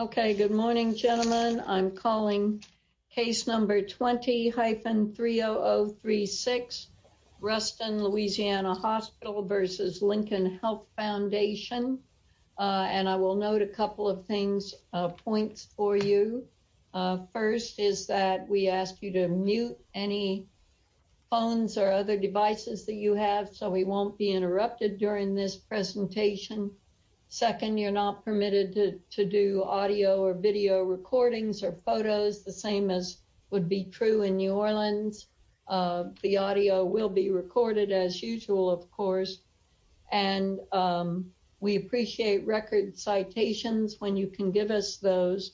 Okay, good morning, gentlemen. I'm calling case number 20-30036, Ruston Louisiana Hospital v. Lincoln Health Foundation. And I will note a couple of things, points for you. First is that we ask you to mute any phones or other devices that you have so we won't be interrupted during this presentation. Second, you're not permitted to do audio or video recordings or photos, the same as would be true in New Orleans. The audio will be recorded as usual, of course. And we appreciate record citations when you can give us those.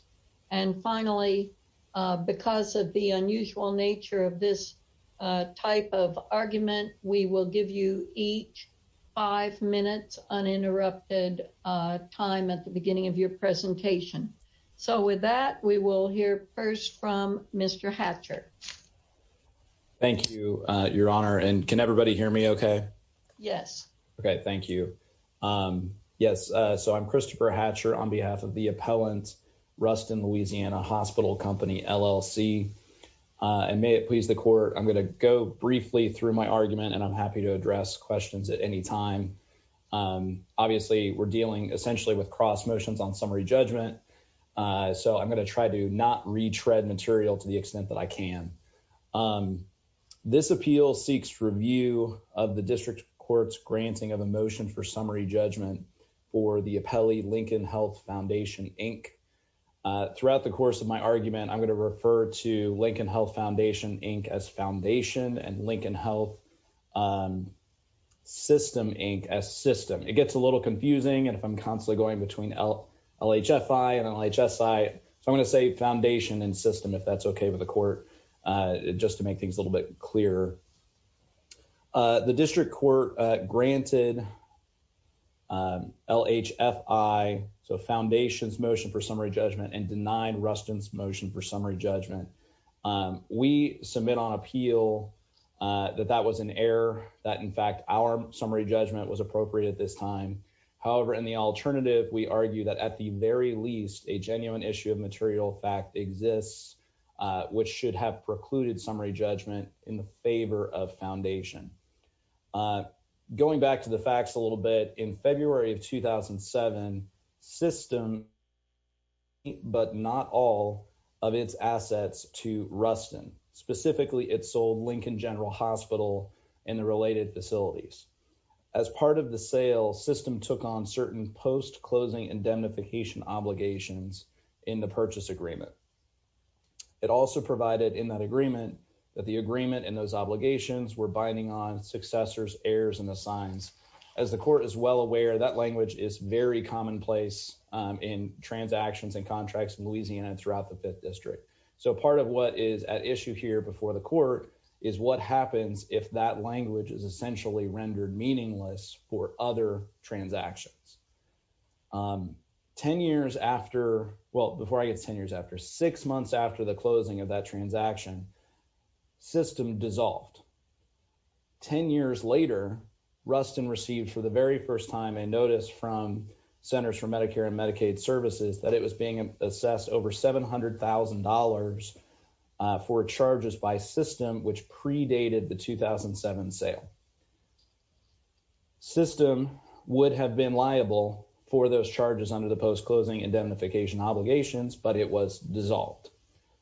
And finally, because of the unusual nature of this type of argument, we will give you each five minutes uninterrupted time at the beginning of your presentation. So with that, we will hear first from Mr. Hatcher. Thank you, Your Honor. And can everybody hear me okay? Yes. Okay, thank you. Yes. So I'm Christopher Hatcher on behalf of the appellant, Ruston Louisiana Hospital Company, LLC. And may it please the court, I'm going to go briefly through my argument and I'm happy to address questions at any time. Obviously, we're dealing essentially with cross motions on summary judgment. So I'm going to try to not retread material to the extent that I can. This appeal seeks review of the district court's granting of a motion for summary judgment for the appellee Lincoln Health Foundation, Inc. Throughout the course of my argument, I'm going to refer to Lincoln Health Foundation, Inc. as foundation and Lincoln Health System, Inc. as system. It gets a little confusing. And if I'm constantly going between LHFI and LHSI, I'm going to say foundation and system if that's okay with the court. Just to make things a little bit clearer. The district court granted LHFI, so foundation's motion for summary judgment, and denied Ruston's motion for summary judgment. We submit on appeal that that was an error, that in fact, our summary judgment was appropriate at this time. However, in the alternative, we argue that at the very least, a genuine issue of material fact exists, which should have precluded summary judgment in the favor of foundation. Going back to the facts a little bit, in February of 2007, system, but not all of its assets to Ruston. Specifically, it sold Lincoln General Hospital and the related facilities. As part of the sale, system took on certain post-closing indemnification obligations in the purchase agreement. It also provided in that agreement that the agreement and those obligations were binding on successors, heirs, and the signs. As the court is well aware, that language is very commonplace in transactions and contracts in Louisiana and throughout the 5th District. So, part of what is at issue here before the court is what happens if that language is essentially rendered meaningless for other transactions. Ten years after, well, before I guess ten years after, six months after the closing of that transaction, system dissolved. Ten years later, Ruston received for the very first time a notice from Centers for Medicare and Medicaid Services that it was being assessed over $700,000 for charges by system, which predated the 2007 sale. System would have been liable for those charges under the post-closing indemnification obligations, but it was dissolved.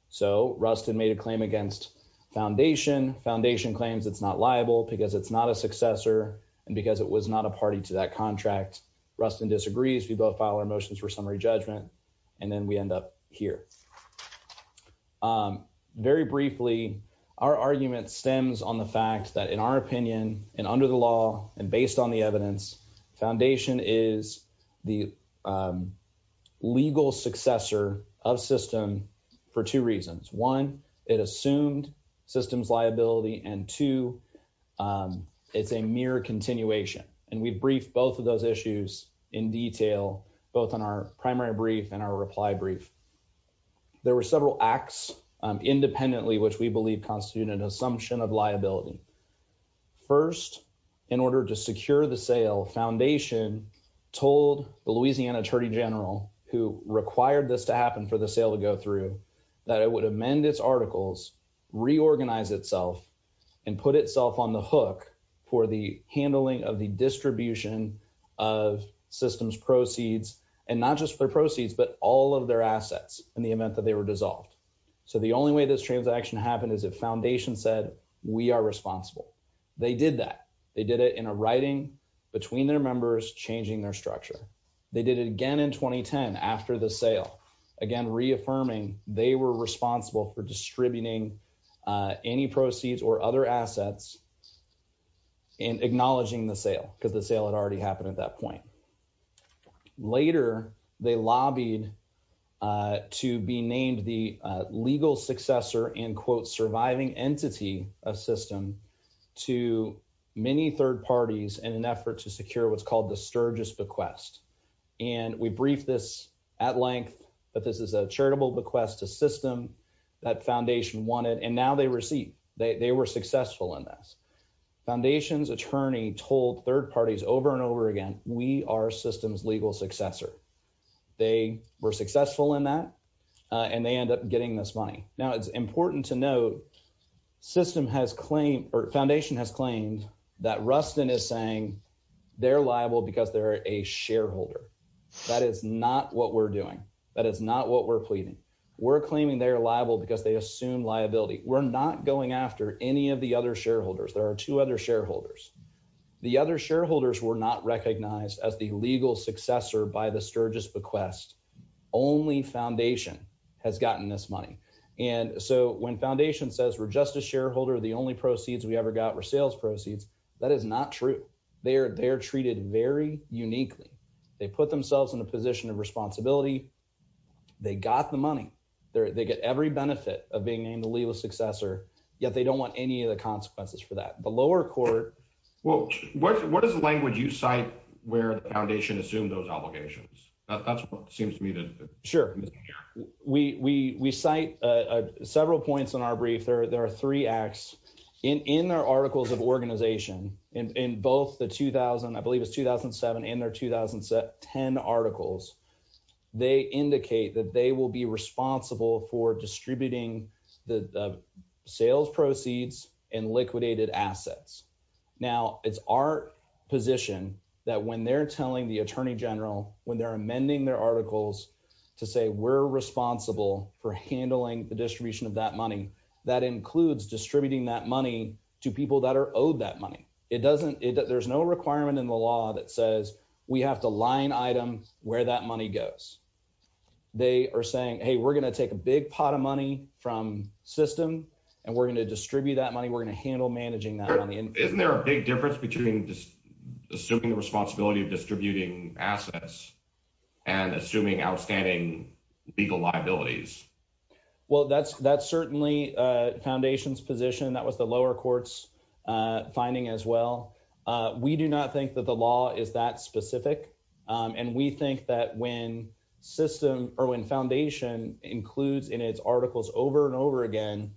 So, Ruston made a claim against Foundation. Foundation claims it's not liable because it's not a successor and because it was not a party to that contract. Ruston disagrees. We both file our motions for summary judgment, and then we end up here. Very briefly, our argument stems on the fact that in our opinion and under the law and of system for two reasons. One, it assumed system's liability, and two, it's a mere continuation. And we've briefed both of those issues in detail, both on our primary brief and our reply brief. There were several acts independently which we believe constitute an assumption of liability. First, in order to secure the sale, Foundation told the Louisiana Attorney General, who required this to happen for the sale to go through, that it would amend its articles, reorganize itself, and put itself on the hook for the handling of the distribution of system's proceeds, and not just their proceeds, but all of their assets in the event that they were dissolved. So, the only way this transaction happened is if Foundation said we are responsible. They did that. They did it in a writing between their members, changing their structure. They did it again in 2010 after the sale. Again, reaffirming they were responsible for distributing any proceeds or other assets and acknowledging the sale because the sale had already happened at that point. Later, they lobbied to be named the legal successor and, quote, surviving entity of system to many third parties in an effort to secure what's called the Sturgis bequest. And we briefed this at length that this is a charitable bequest to system that Foundation wanted, and now they receive. They were successful in this. Foundation's attorney told third parties over and over again, we are system's legal successor. They were successful in that, and they end up getting this money. Now, it's they're liable because they're a shareholder. That is not what we're doing. That is not what we're pleading. We're claiming they're liable because they assume liability. We're not going after any of the other shareholders. There are two other shareholders. The other shareholders were not recognized as the legal successor by the Sturgis bequest. Only Foundation has gotten this money. And so, when Foundation says we're just a shareholder, the only proceeds we ever got were sales proceeds, that is not true. They're treated very uniquely. They put themselves in a position of responsibility. They got the money. They get every benefit of being named the legal successor, yet they don't want any of the consequences for that. The lower court... Well, what is the language you cite where the Foundation assumed those obligations? That's what seems to me to... We cite several points in our brief. There are three acts. In their articles of organization, in both the 2000, I believe it's 2007, in their 2010 articles, they indicate that they will be responsible for distributing the sales proceeds and liquidated assets. Now, it's our position that when they're telling the Attorney General, when they're amending their articles to say, we're responsible for handling the distribution of that money, that includes distributing that money to people that are owed that money. There's no requirement in the law that says we have to line item where that money goes. They are saying, hey, we're going to take a big pot of money from system and we're going to distribute that money. We're going to handle managing that money. Isn't there a big difference between just assuming the responsibility of distributing assets and assuming outstanding legal liabilities? Well, that's certainly Foundation's position. That was the lower court's finding as well. We do not think that the law is that specific. And we think that when system or when Foundation includes in its articles over and over again,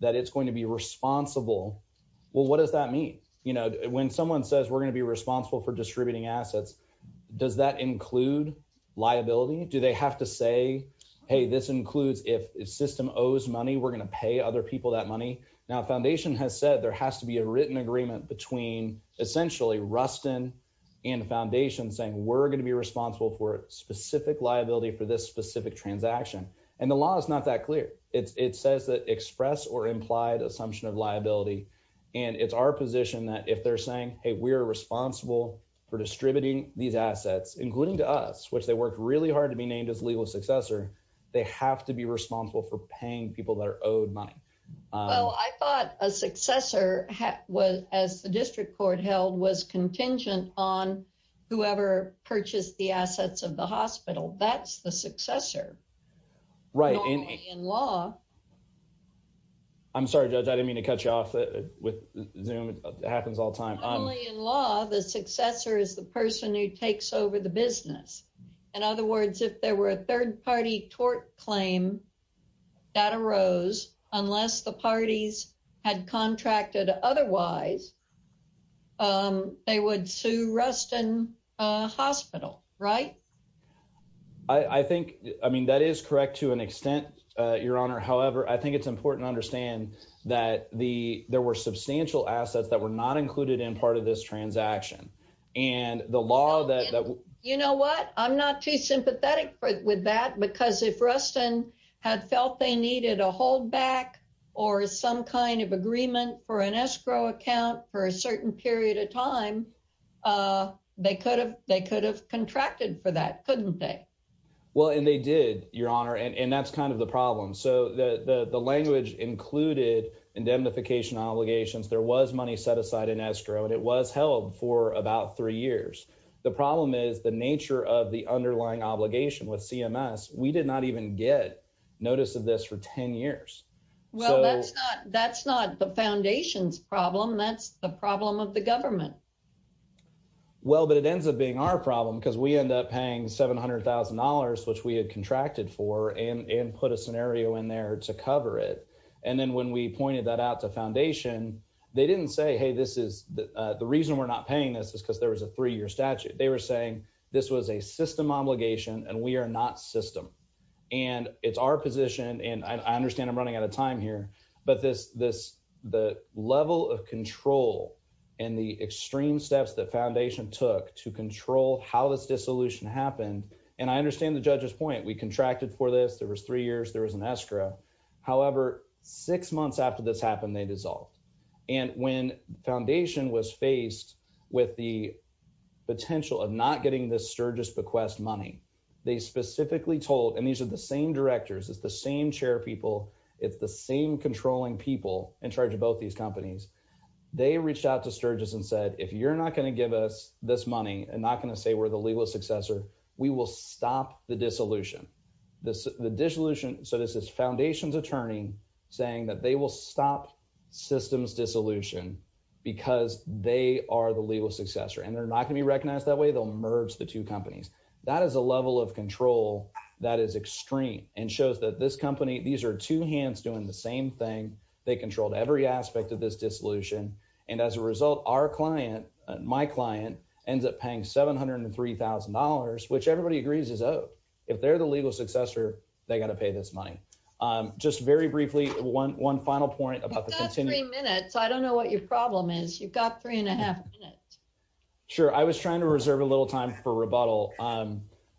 that it's going to be responsible. Well, what does that mean? When someone says we're going to be responsible for does that include liability? Do they have to say, hey, this includes if system owes money, we're going to pay other people that money. Now, Foundation has said there has to be a written agreement between essentially Rustin and Foundation saying we're going to be responsible for specific liability for this specific transaction. And the law is not that clear. It says that express or implied assumption of liability. And it's our position that if they're saying, hey, we're responsible for distributing these assets, including to us, which they worked really hard to be named as legal successor, they have to be responsible for paying people that are owed money. Well, I thought a successor was as the district court held was contingent on whoever purchased the assets of the hospital. That's the successor. Right. And in law. I'm sorry, Judge, I didn't mean to cut you off with Zoom. It happens all time. Only in law, the successor is the person who takes over the business. In other words, if there were a third party tort claim that arose unless the parties had contracted otherwise. They would sue Rustin Hospital, right? I think I mean, that is correct to an extent, Your Honor. However, I think it's important to the there were substantial assets that were not included in part of this transaction. And the law that you know what? I'm not too sympathetic with that, because if Rustin had felt they needed a hold back or some kind of agreement for an escrow account for a certain period of time, they could have they could have contracted for that, couldn't they? Well, and they did, Your Honor. And that's kind of the problem. So the language included indemnification obligations. There was money set aside in escrow and it was held for about three years. The problem is the nature of the underlying obligation with CMS. We did not even get notice of this for 10 years. Well, that's not that's not the foundation's problem. That's the problem of the government. Well, but it ends up being our problem because we end up paying seven hundred thousand dollars, which we had contracted for and put a scenario in there to cover it. And then when we pointed that out to foundation, they didn't say, hey, this is the reason we're not paying this is because there was a three year statute. They were saying this was a system obligation and we are not system. And it's our position. And I understand I'm running out of time here. But this this the level of control and the extreme steps that foundation took to control how this dissolution happened. And I understand the judge's point. We contracted for this. There was three years, there was an escrow. However, six months after this happened, they dissolved. And when foundation was faced with the potential of not getting this Sturgis bequest money, they specifically told and these are the same directors, it's the same chair people, it's the same controlling people in charge of both these companies. They reached out to Sturgis and said, if you're not going to give us this money and not going to say we're the legal successor, we will stop the dissolution, the dissolution. So this is foundation's attorney saying that they will stop systems dissolution because they are the legal successor and they're not going to be recognized that way. They'll merge the two companies. That is a level of control that is extreme and shows that this company, these are two hands doing the same thing. They controlled every aspect of this dissolution. And as a result, our client, my client ends up paying $703,000, which everybody agrees is owed. If they're the legal successor, they got to pay this money. Just very briefly, one, one final point about the continuing minutes. I don't know what your problem is. You've got three and a half minutes. Sure. I was trying to reserve a little time for rebuttal.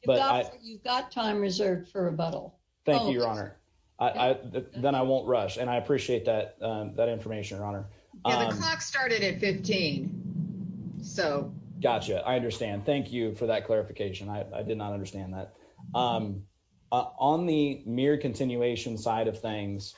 You've got time reserved for rebuttal. Thank you, Your Honor. Then I won't rush. And I appreciate that. That information, Your Honor. Yeah, the clock started at 15. So. Gotcha. I understand. Thank you for that clarification. I did not understand that. On the mere continuation side of things,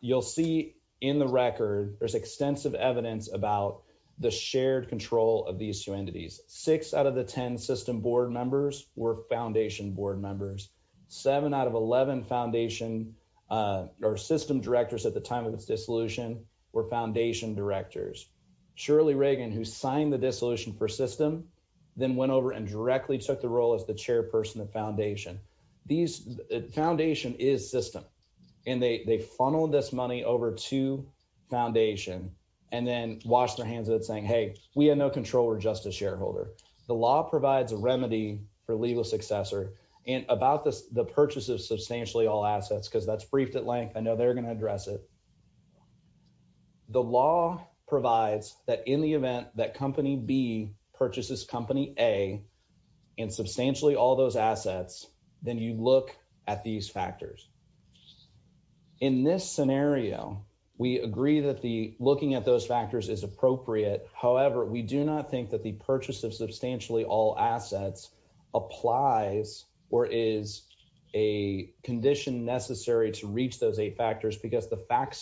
you'll see in the record, there's extensive evidence about the shared control of these two entities. Six out of the 10 system board members were foundation board members. Seven out of 11 foundation or system directors at the time of its dissolution were foundation directors. Shirley Reagan, who signed the dissolution for system, then went over and directly took the role as the chairperson of foundation. These foundation is system. And they funneled this money over to foundation and then washed their hands of it saying, hey, we had no control. We're just a shareholder. The law provides a remedy for legal successor and about the purchase of substantially all assets, because that's briefed I know they're going to address it. The law provides that in the event that company B purchases company A and substantially all those assets, then you look at these factors. In this scenario, we agree that the looking at those factors is appropriate. However, we do not think that the the facts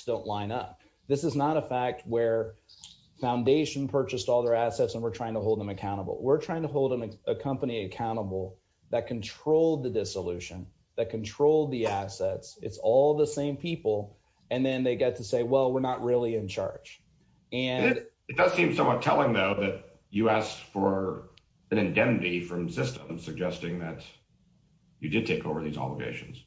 don't line up. This is not a fact where foundation purchased all their assets, and we're trying to hold them accountable. We're trying to hold a company accountable that controlled the dissolution, that controlled the assets. It's all the same people. And then they get to say, well, we're not really in charge. And it does seem somewhat telling, though, that you asked for an indemnity from system suggesting that you did take over these obligations.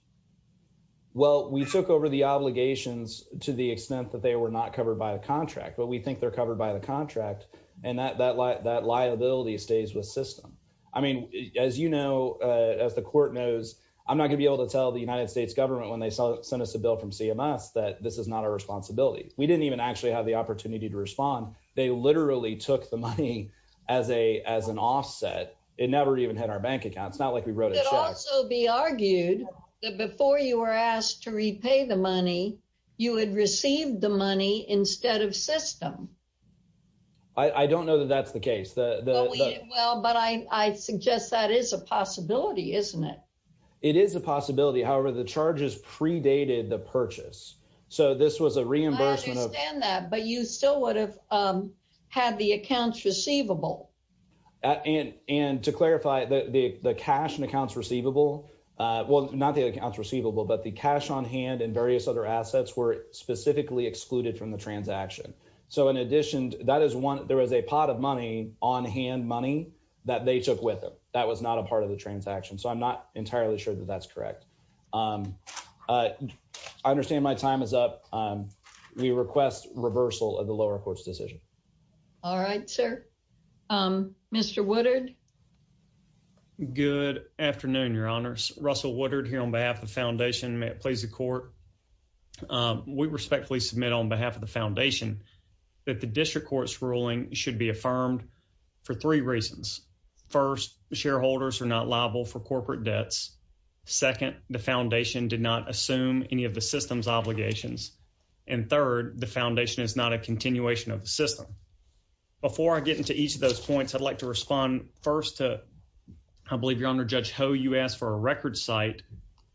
Well, we took over the obligations to the extent that they were not covered by the contract, but we think they're covered by the contract and that that that liability stays with system. I mean, as you know, as the court knows, I'm not gonna be able to tell the United States government when they send us a bill from CMS that this is not our responsibility. We didn't even actually have the opportunity to respond. They literally took the money as a as an offset. It never even had our bank account. It's not like we wrote it. Also be argued that before you were asked to repay the money, you would receive the money instead of system. I don't know that that's the case. Well, but I suggest that is a possibility, isn't it? It is a possibility. However, the charges predated the purchase. So this was a reimbursement of that. But you still would have had the accounts receivable and to clarify the cash and accounts receivable. Well, not the accounts receivable, but the cash on hand and various other assets were specifically excluded from the transaction. So in addition, that is one. There was a pot of money on hand money that they took with them. That was not a part of the transaction. So I'm not entirely sure that that's correct. I understand my time is up. We request reversal of the lower courts decision. All right, sir. Mr. Woodard. Good afternoon, Your Honors. Russell Woodard here on behalf of the foundation. May it please the court. We respectfully submit on behalf of the foundation that the district court's ruling should be affirmed for three reasons. First, shareholders are not liable for corporate debts. Second, the foundation did not assume any of the system. Before I get into each of those points, I'd like to respond first to, I believe, Your Honor, Judge Ho. You asked for a record site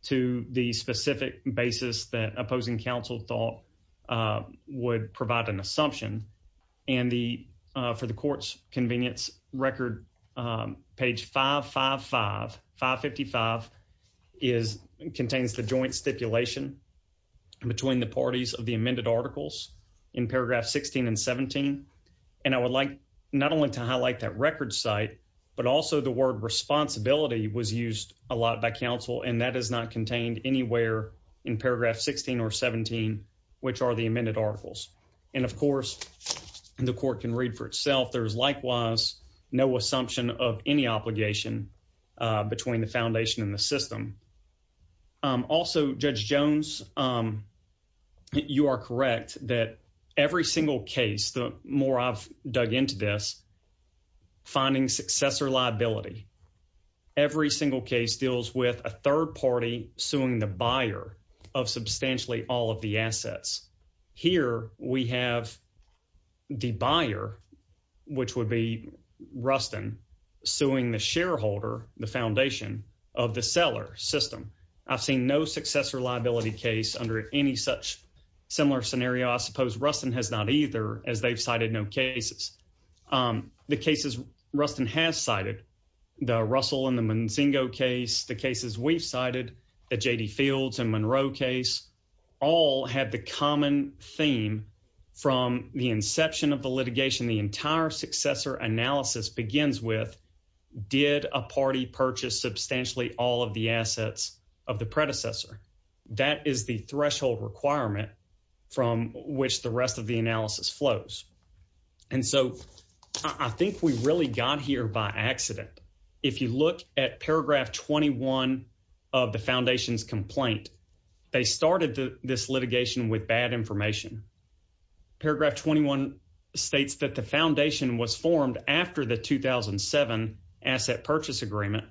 to the specific basis that opposing counsel thought would provide an assumption. And for the court's convenience record, page 555 contains the joint stipulation between the parties of the amended articles in paragraph 16 and 17. And I would like not only to highlight that record site, but also the word responsibility was used a lot by counsel, and that is not contained anywhere in paragraph 16 or 17, which are the amended articles. And of course, the court can read for itself. There's likewise no assumption of any obligation between the foundation and the system. Also, Judge Jones, you are correct that every single case, the more I've dug into this, finding successor liability, every single case deals with a third party suing the buyer of substantially all of the assets. Here we have the buyer, which would be Rustin, suing the shareholder, the foundation, of the seller system. I've seen no successor liability case under any such similar scenario. I suppose Rustin has not either, as they've cited no cases. The cases Rustin has cited, the Russell and the Manzingo case, the cases we've cited, the J.D. Fields and Monroe case, all have the common theme from the inception of the litigation, the entire successor analysis begins with, did a party purchase substantially all of the assets of the predecessor? That is the threshold requirement from which the rest of the analysis flows. And so I think we really got here by accident. If you look at paragraph 21 of the foundation's complaint, they started this litigation with bad information. Paragraph 21 states that the foundation was formed after the 2007 asset purchase agreement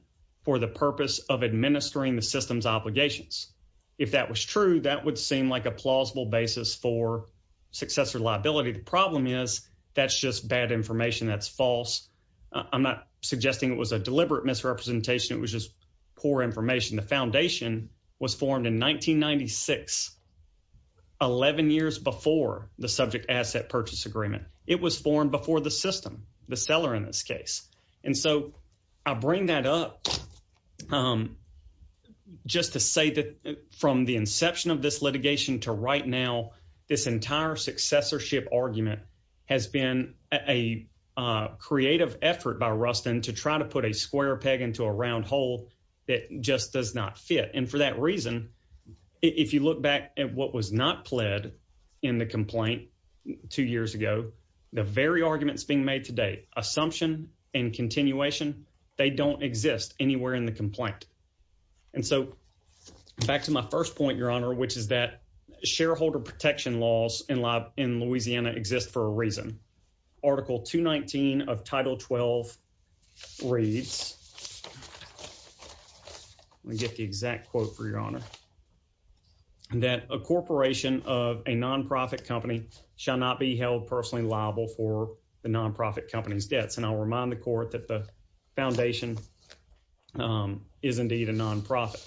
for the purpose of administering the system's obligations. If that was true, that would seem like a plausible basis for successor liability. The problem is that's just bad information, that's false. I'm not suggesting it was a deliberate misrepresentation, it was just subject asset purchase agreement. It was formed before the system, the seller in this case. And so I bring that up just to say that from the inception of this litigation to right now, this entire successorship argument has been a creative effort by Rustin to try to put a square peg into a round hole that just does not fit. And for that reason, if you look back at what was not in the complaint two years ago, the very arguments being made today, assumption and continuation, they don't exist anywhere in the complaint. And so back to my first point, your honor, which is that shareholder protection laws in Louisiana exist for a reason. Article 219 of Title 12 reads, let me get the exact quote for your honor, that a corporation of a non-profit company shall not be held personally liable for the non-profit company's debts. And I'll remind the court that the foundation is indeed a non-profit.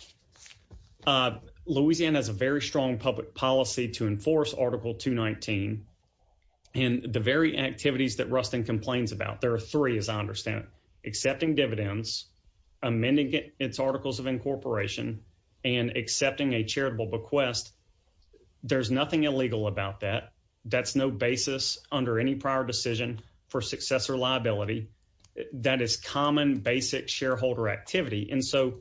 Louisiana has a very strong public policy to enforce Article 219. And the very activities that Rustin complains about, there are three as I understand, accepting dividends, amending its articles of incorporation, and accepting a charitable bequest. There's nothing illegal about that. That's no basis under any prior decision for successor liability. That is common basic shareholder activity. And so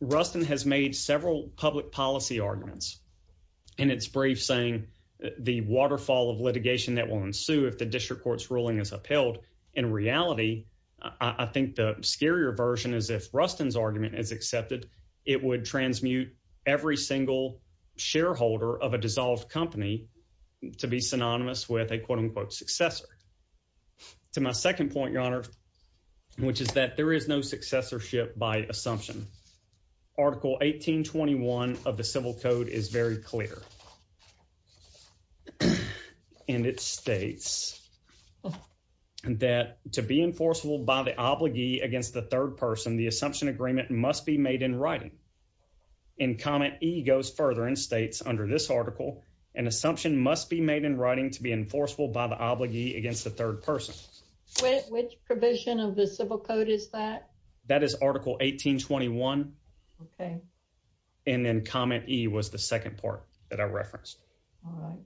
Rustin has made several public policy arguments in its brief saying the waterfall of litigation that will ensue if the district court's ruling is upheld. In reality, I think the scarier version is if Rustin's argument is accepted, it would transmute every single shareholder of a dissolved company to be synonymous with a quote-unquote successor. To my second point, your honor, which is that there is no successorship by assumption. Article 1821 of the Civil Code is very clear. And it states that to be enforceable by the obligee against the third person, the assumption agreement must be made in writing. In comment E goes further and states under this article, an assumption must be made in writing to be enforceable by the obligee against the third person. Which provision of the Civil Code is that? That is article 1821. Okay. And then comment E was the second part that I referenced. All right.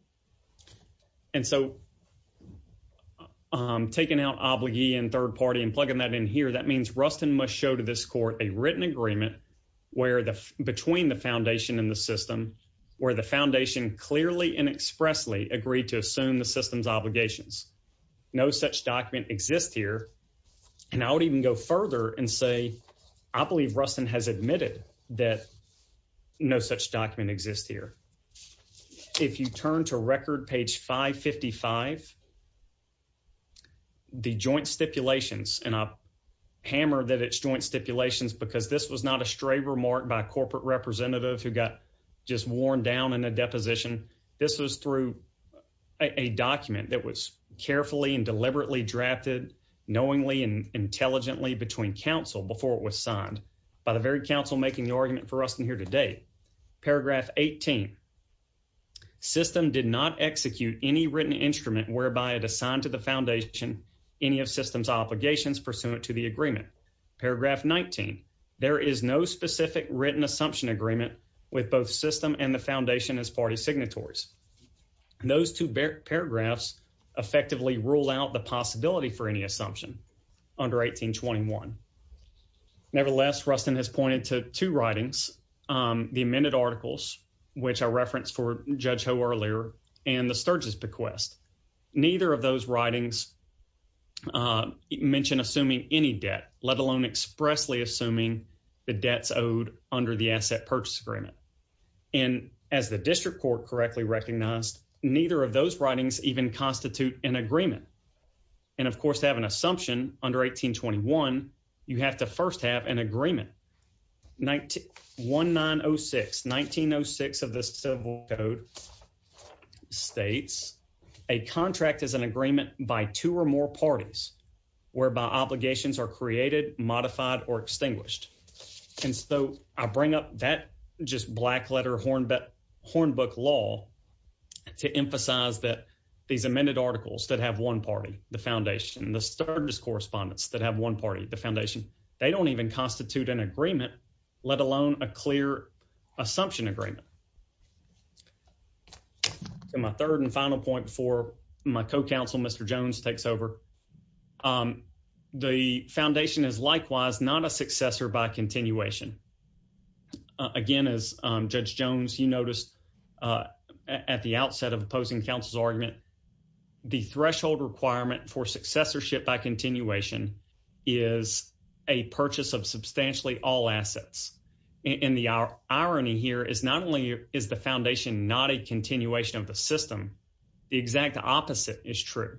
And so taking out obligee and third party and plugging that in here, that means Rustin must show to this court a written agreement between the foundation and the system where the foundation clearly and expressly agreed to assume the system's obligations. No such document exists here. And I would even go further and say, I believe Rustin has admitted that no such document exists here. If you turn to record page 555, the joint stipulations, and I hammer that it's joint stipulations because this was not a stray remark by a corporate representative who got just worn down in a deposition. This was through a document that was carefully and deliberately drafted knowingly and intelligently between council before it was signed by the very council making the argument for us in here today. Paragraph 18 system did not execute any written instrument whereby it assigned to the foundation any of systems obligations pursuant to the agreement. Paragraph 19. There is no specific written assumption agreement with both system and the foundation as party signatories. Those two paragraphs effectively rule out the possibility for any assumption under 1821. Nevertheless, Rustin has pointed to two writings, the amended articles, which I referenced for Judge Ho earlier, and the Sturges bequest. Neither of those writings mentioned assuming any debt, let alone expressly assuming the debts owed under the asset purchase agreement. And as the district court correctly recognized, neither of those writings even constitute an agreement. And of course, to have an assumption under 1821, you have to first have an agreement. 1906 of the civil code states a contract is an agreement by two or more parties whereby obligations are created, modified, or extinguished. And so I bring up that just black letter horn bet horn book law to emphasize that these amended articles that have one party, the foundation, the Sturges correspondence that have one party, the foundation, they don't even constitute an agreement, let alone a clear assumption agreement. And my third and final point for my co-counsel, Mr. Jones takes over. The foundation is likewise not a successor by continuation. Again, as Judge Jones, you noticed at the outset of opposing counsel's argument, the threshold requirement for successorship by continuation is a purchase of substantially all is the foundation, not a continuation of the system. The exact opposite is true.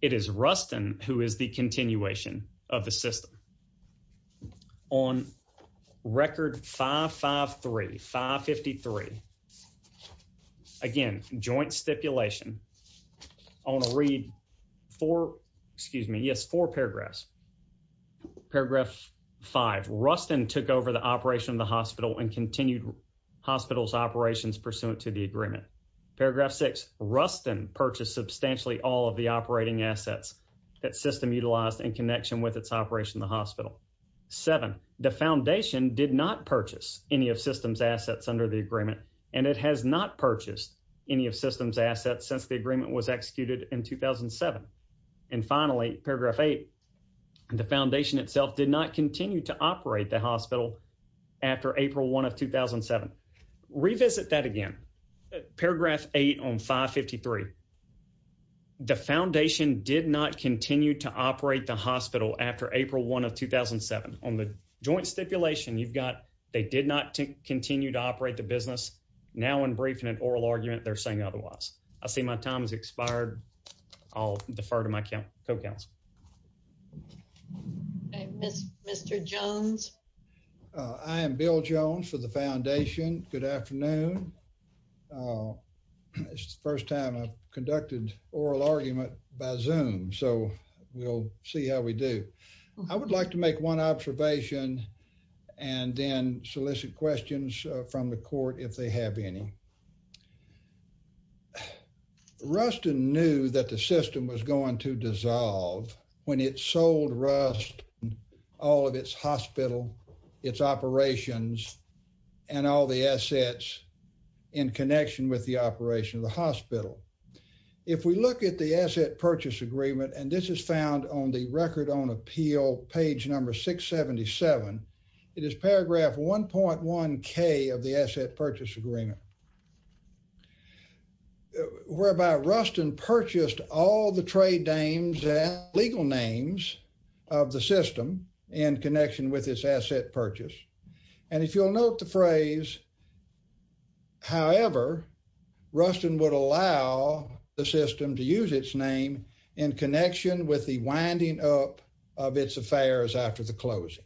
It is Rustin who is the continuation of the system. On record 553, 553, again, joint stipulation on a read four, excuse me, yes, four paragraphs. Paragraph five, Rustin took over the operation of the hospital and continued hospitals operations pursuant to the agreement. Paragraph six, Rustin purchased substantially all of the operating assets that system utilized in connection with its operation of the hospital. Seven, the foundation did not purchase any of systems assets under the agreement, and it has not purchased any of systems assets since the agreement was executed in 2007. And finally, paragraph eight, the foundation itself did not continue to operate the hospital after April one of 2007. Revisit that again. Paragraph eight on 553, the foundation did not continue to operate the hospital after April one of 2007. On the joint stipulation, you've got, they did not continue to operate the business. Now in briefing and oral argument, they're saying otherwise. I see my time has expired. I'll defer to my co-counsel. Okay, Mr. Jones. I am Bill Jones for the foundation. Good afternoon. It's the first time I've conducted oral argument by Zoom, so we'll see how we do. I would like to make one observation and then solicit questions from the court if they have any. Ruston knew that the system was going to dissolve when it sold Ruston all of its hospital, its operations, and all the assets in connection with the operation of the hospital. If we look at the asset purchase agreement, and this is found on the record on appeal, page number 677, it is paragraph 1.1k of the asset purchase agreement. Whereby Ruston purchased all the trade names and legal names of the system in connection with its asset purchase. And if you'll note the phrase, however, Ruston would allow the system to use its name in connection with the winding up of its affairs after the closing,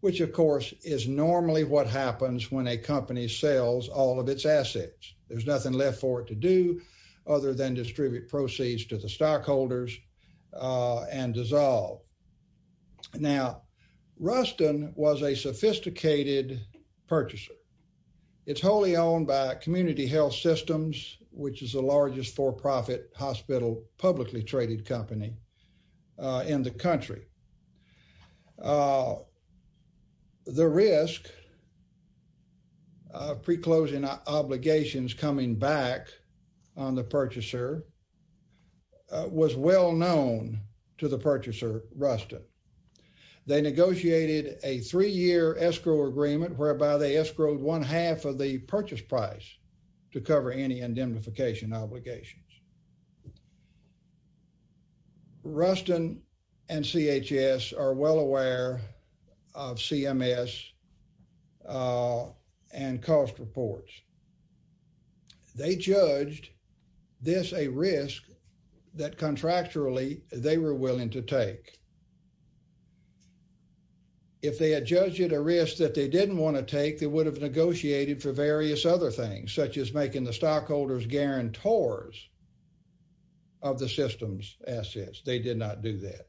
which of course is normally what happens when a company sells all of its assets. There's nothing left for it to do other than distribute proceeds to the stockholders and dissolve. Now, Ruston was a sophisticated purchaser. It's wholly owned by Community Health Systems, which is the largest for-profit hospital publicly traded company in the country. The risk of pre-closing obligations coming back on the purchaser was well-known to the purchaser, Ruston. They negotiated a three-year escrow agreement whereby they escrowed one half of the purchase price to cover any indemnification obligations. Ruston and CHS are well aware of CMS and cost reports. They judged this a risk that contractually they were willing to take. If they had judged it a risk that they didn't want to take, they would have negotiated for various other things, such as making the stockholders guarantors of the system's assets. They did not do that.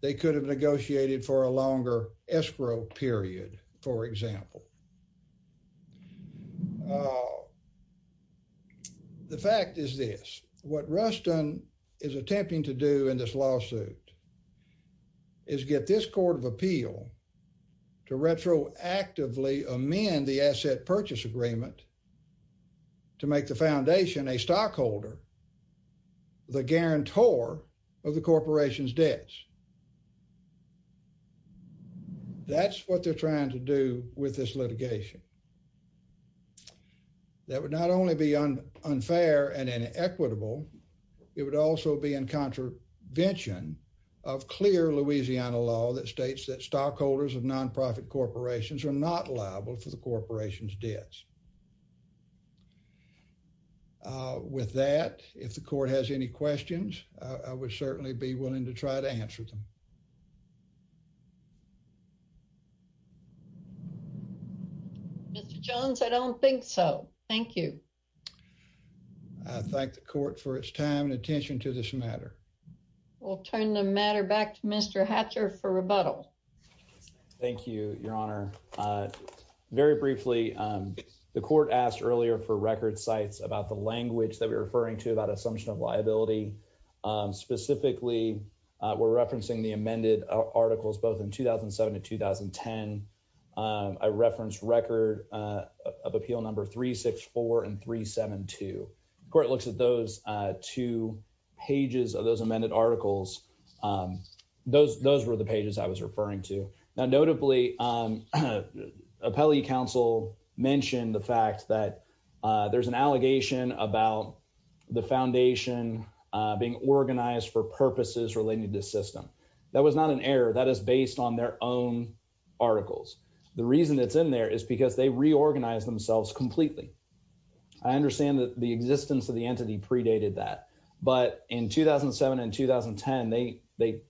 They could have negotiated for a longer escrow period, for example. The fact is this. What Ruston is attempting to do in this lawsuit is get this Court of Appeal to retroactively amend the asset purchase agreement to make the foundation a stockholder, the guarantor of the corporation's debts. That's what they're trying to do with this litigation. That would not only be unfair and inequitable, it would also be in contravention of clear Louisiana law that states that stockholders of non-profit corporations are not liable for the corporation's debts. With that, if the court has any questions, I would certainly be willing to try to answer them. Mr. Jones, I don't think so. Thank you. I thank the court for its time and attention to this matter. We'll turn the matter back to Mr. Hatcher for rebuttal. Thank you, Your Honor. Very briefly, the court asked earlier for record sites about the language that we're referring to about assumption of liability. Specifically, we're referencing the amended articles both in 2007 and 2010. I referenced record of appeal number 364 and 372. The court looks at those two pages of those amended articles. Those were the pages I was referring to. Notably, appellee counsel mentioned the fact that there's an allegation about the foundation being organized for purposes related to the system. That was not an error. That is based on their own articles. The reason it's in there is because they reorganized themselves completely. I understand that the existence of the entity predated that. In 2007 and 2010, they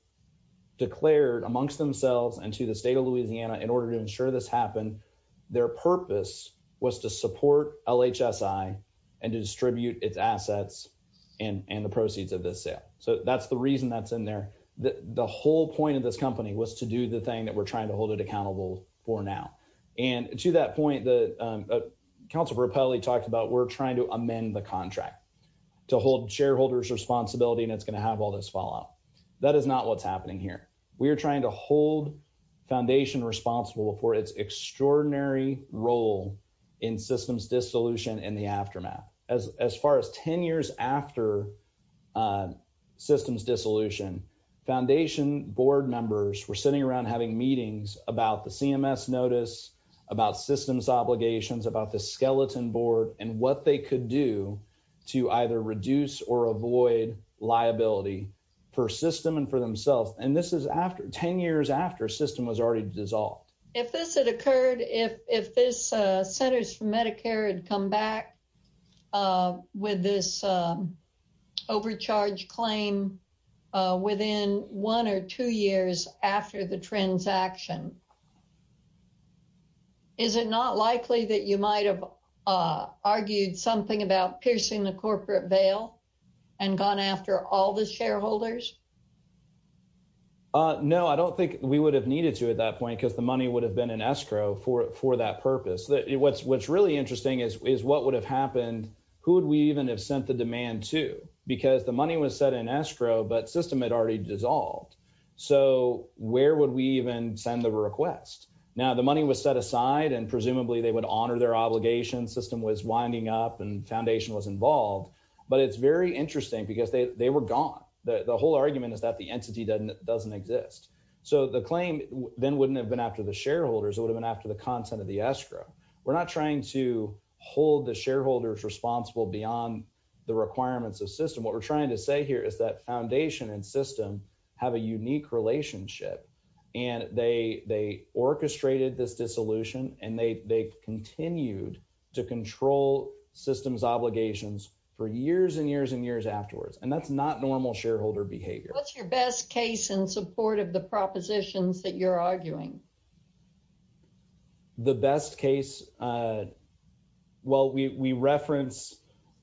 declared amongst themselves and to the state of Louisiana, in order to ensure this happened, their purpose was to support LHSI and to distribute its assets and the proceeds of this sale. That's the reason that's in there. The whole point of this company was to do the thing that we're trying to hold it accountable for now. To that point, the counsel repeatedly talked about we're trying to amend the contract to hold shareholders responsibility and it's going to have all this fallout. That is not what's happening here. We're trying to hold foundation responsible for its extraordinary role in systems dissolution and the aftermath. As far as 10 years after systems dissolution, foundation board members were sitting around having meetings about the CMS notice, about systems obligations, about the skeleton board and what they could do to either reduce or avoid liability for system and for themselves. This is 10 years after system was already dissolved. If this had occurred, if this Centers for Medicare had come back with this overcharge claim within one or two years after the transaction, is it not likely that you might have argued something about piercing the corporate veil and gone after all the shareholders? No, I don't think we would have needed to at that point, the money would have been in escrow for that purpose. What's really interesting is what would have happened, who would we even have sent the demand to? Because the money was set in escrow, but system had already dissolved. Where would we even send the request? The money was set aside and presumably they would honor their obligation, system was winding up and foundation was involved, but it's very interesting because they were gone. The whole argument is that the entity doesn't exist. The claim then wouldn't have been after the shareholders, it would have been after the content of the escrow. We're not trying to hold the shareholders responsible beyond the requirements of system. What we're trying to say here is that foundation and system have a unique relationship. They orchestrated this dissolution and they continued to control systems obligations for years and years and years afterwards. That's not normal shareholder behavior. What's your best case in support of the propositions that you're arguing? The best case, well we reference,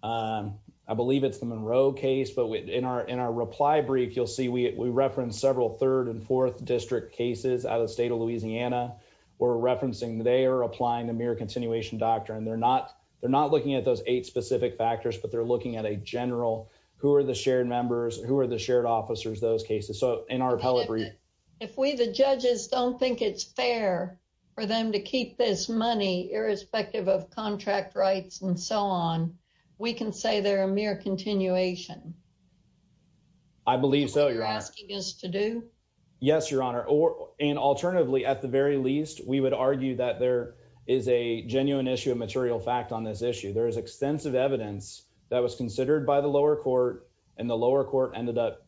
I believe it's the Monroe case, but in our reply brief you'll see we reference several third and fourth district cases out of the state of Louisiana. We're referencing they are applying the mere continuation doctrine. They're not looking at those eight specific factors, but they're looking at a general, who are the shared members, who are the shared officers, those cases. If we, the judges, don't think it's fair for them to keep this money irrespective of contract rights and so on, we can say they're a mere continuation. I believe so, your honor. What you're asking us to do? Yes, your honor. Alternatively, at the very least, we would argue that there is a genuine issue of material fact on this issue. There is extensive evidence that was considered by the lower court, and the lower court ended up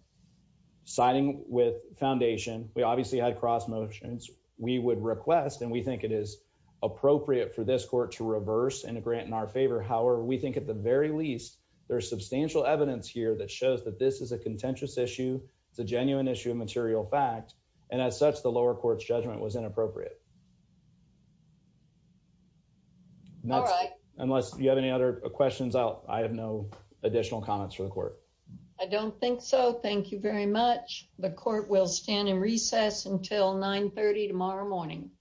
siding with foundation. We obviously had cross motions. We would request, and we think it is appropriate for this court to reverse and grant in our favor. However, we think at the very least, there's substantial evidence here that shows that this is a contentious issue. It's a genuine issue of material fact, and as such the lower court's judgment was inappropriate. All right. Unless you have any other questions, I have no additional comments for the court. I don't think so. Thank you very much. The court will stand in recess until 9 30 tomorrow morning.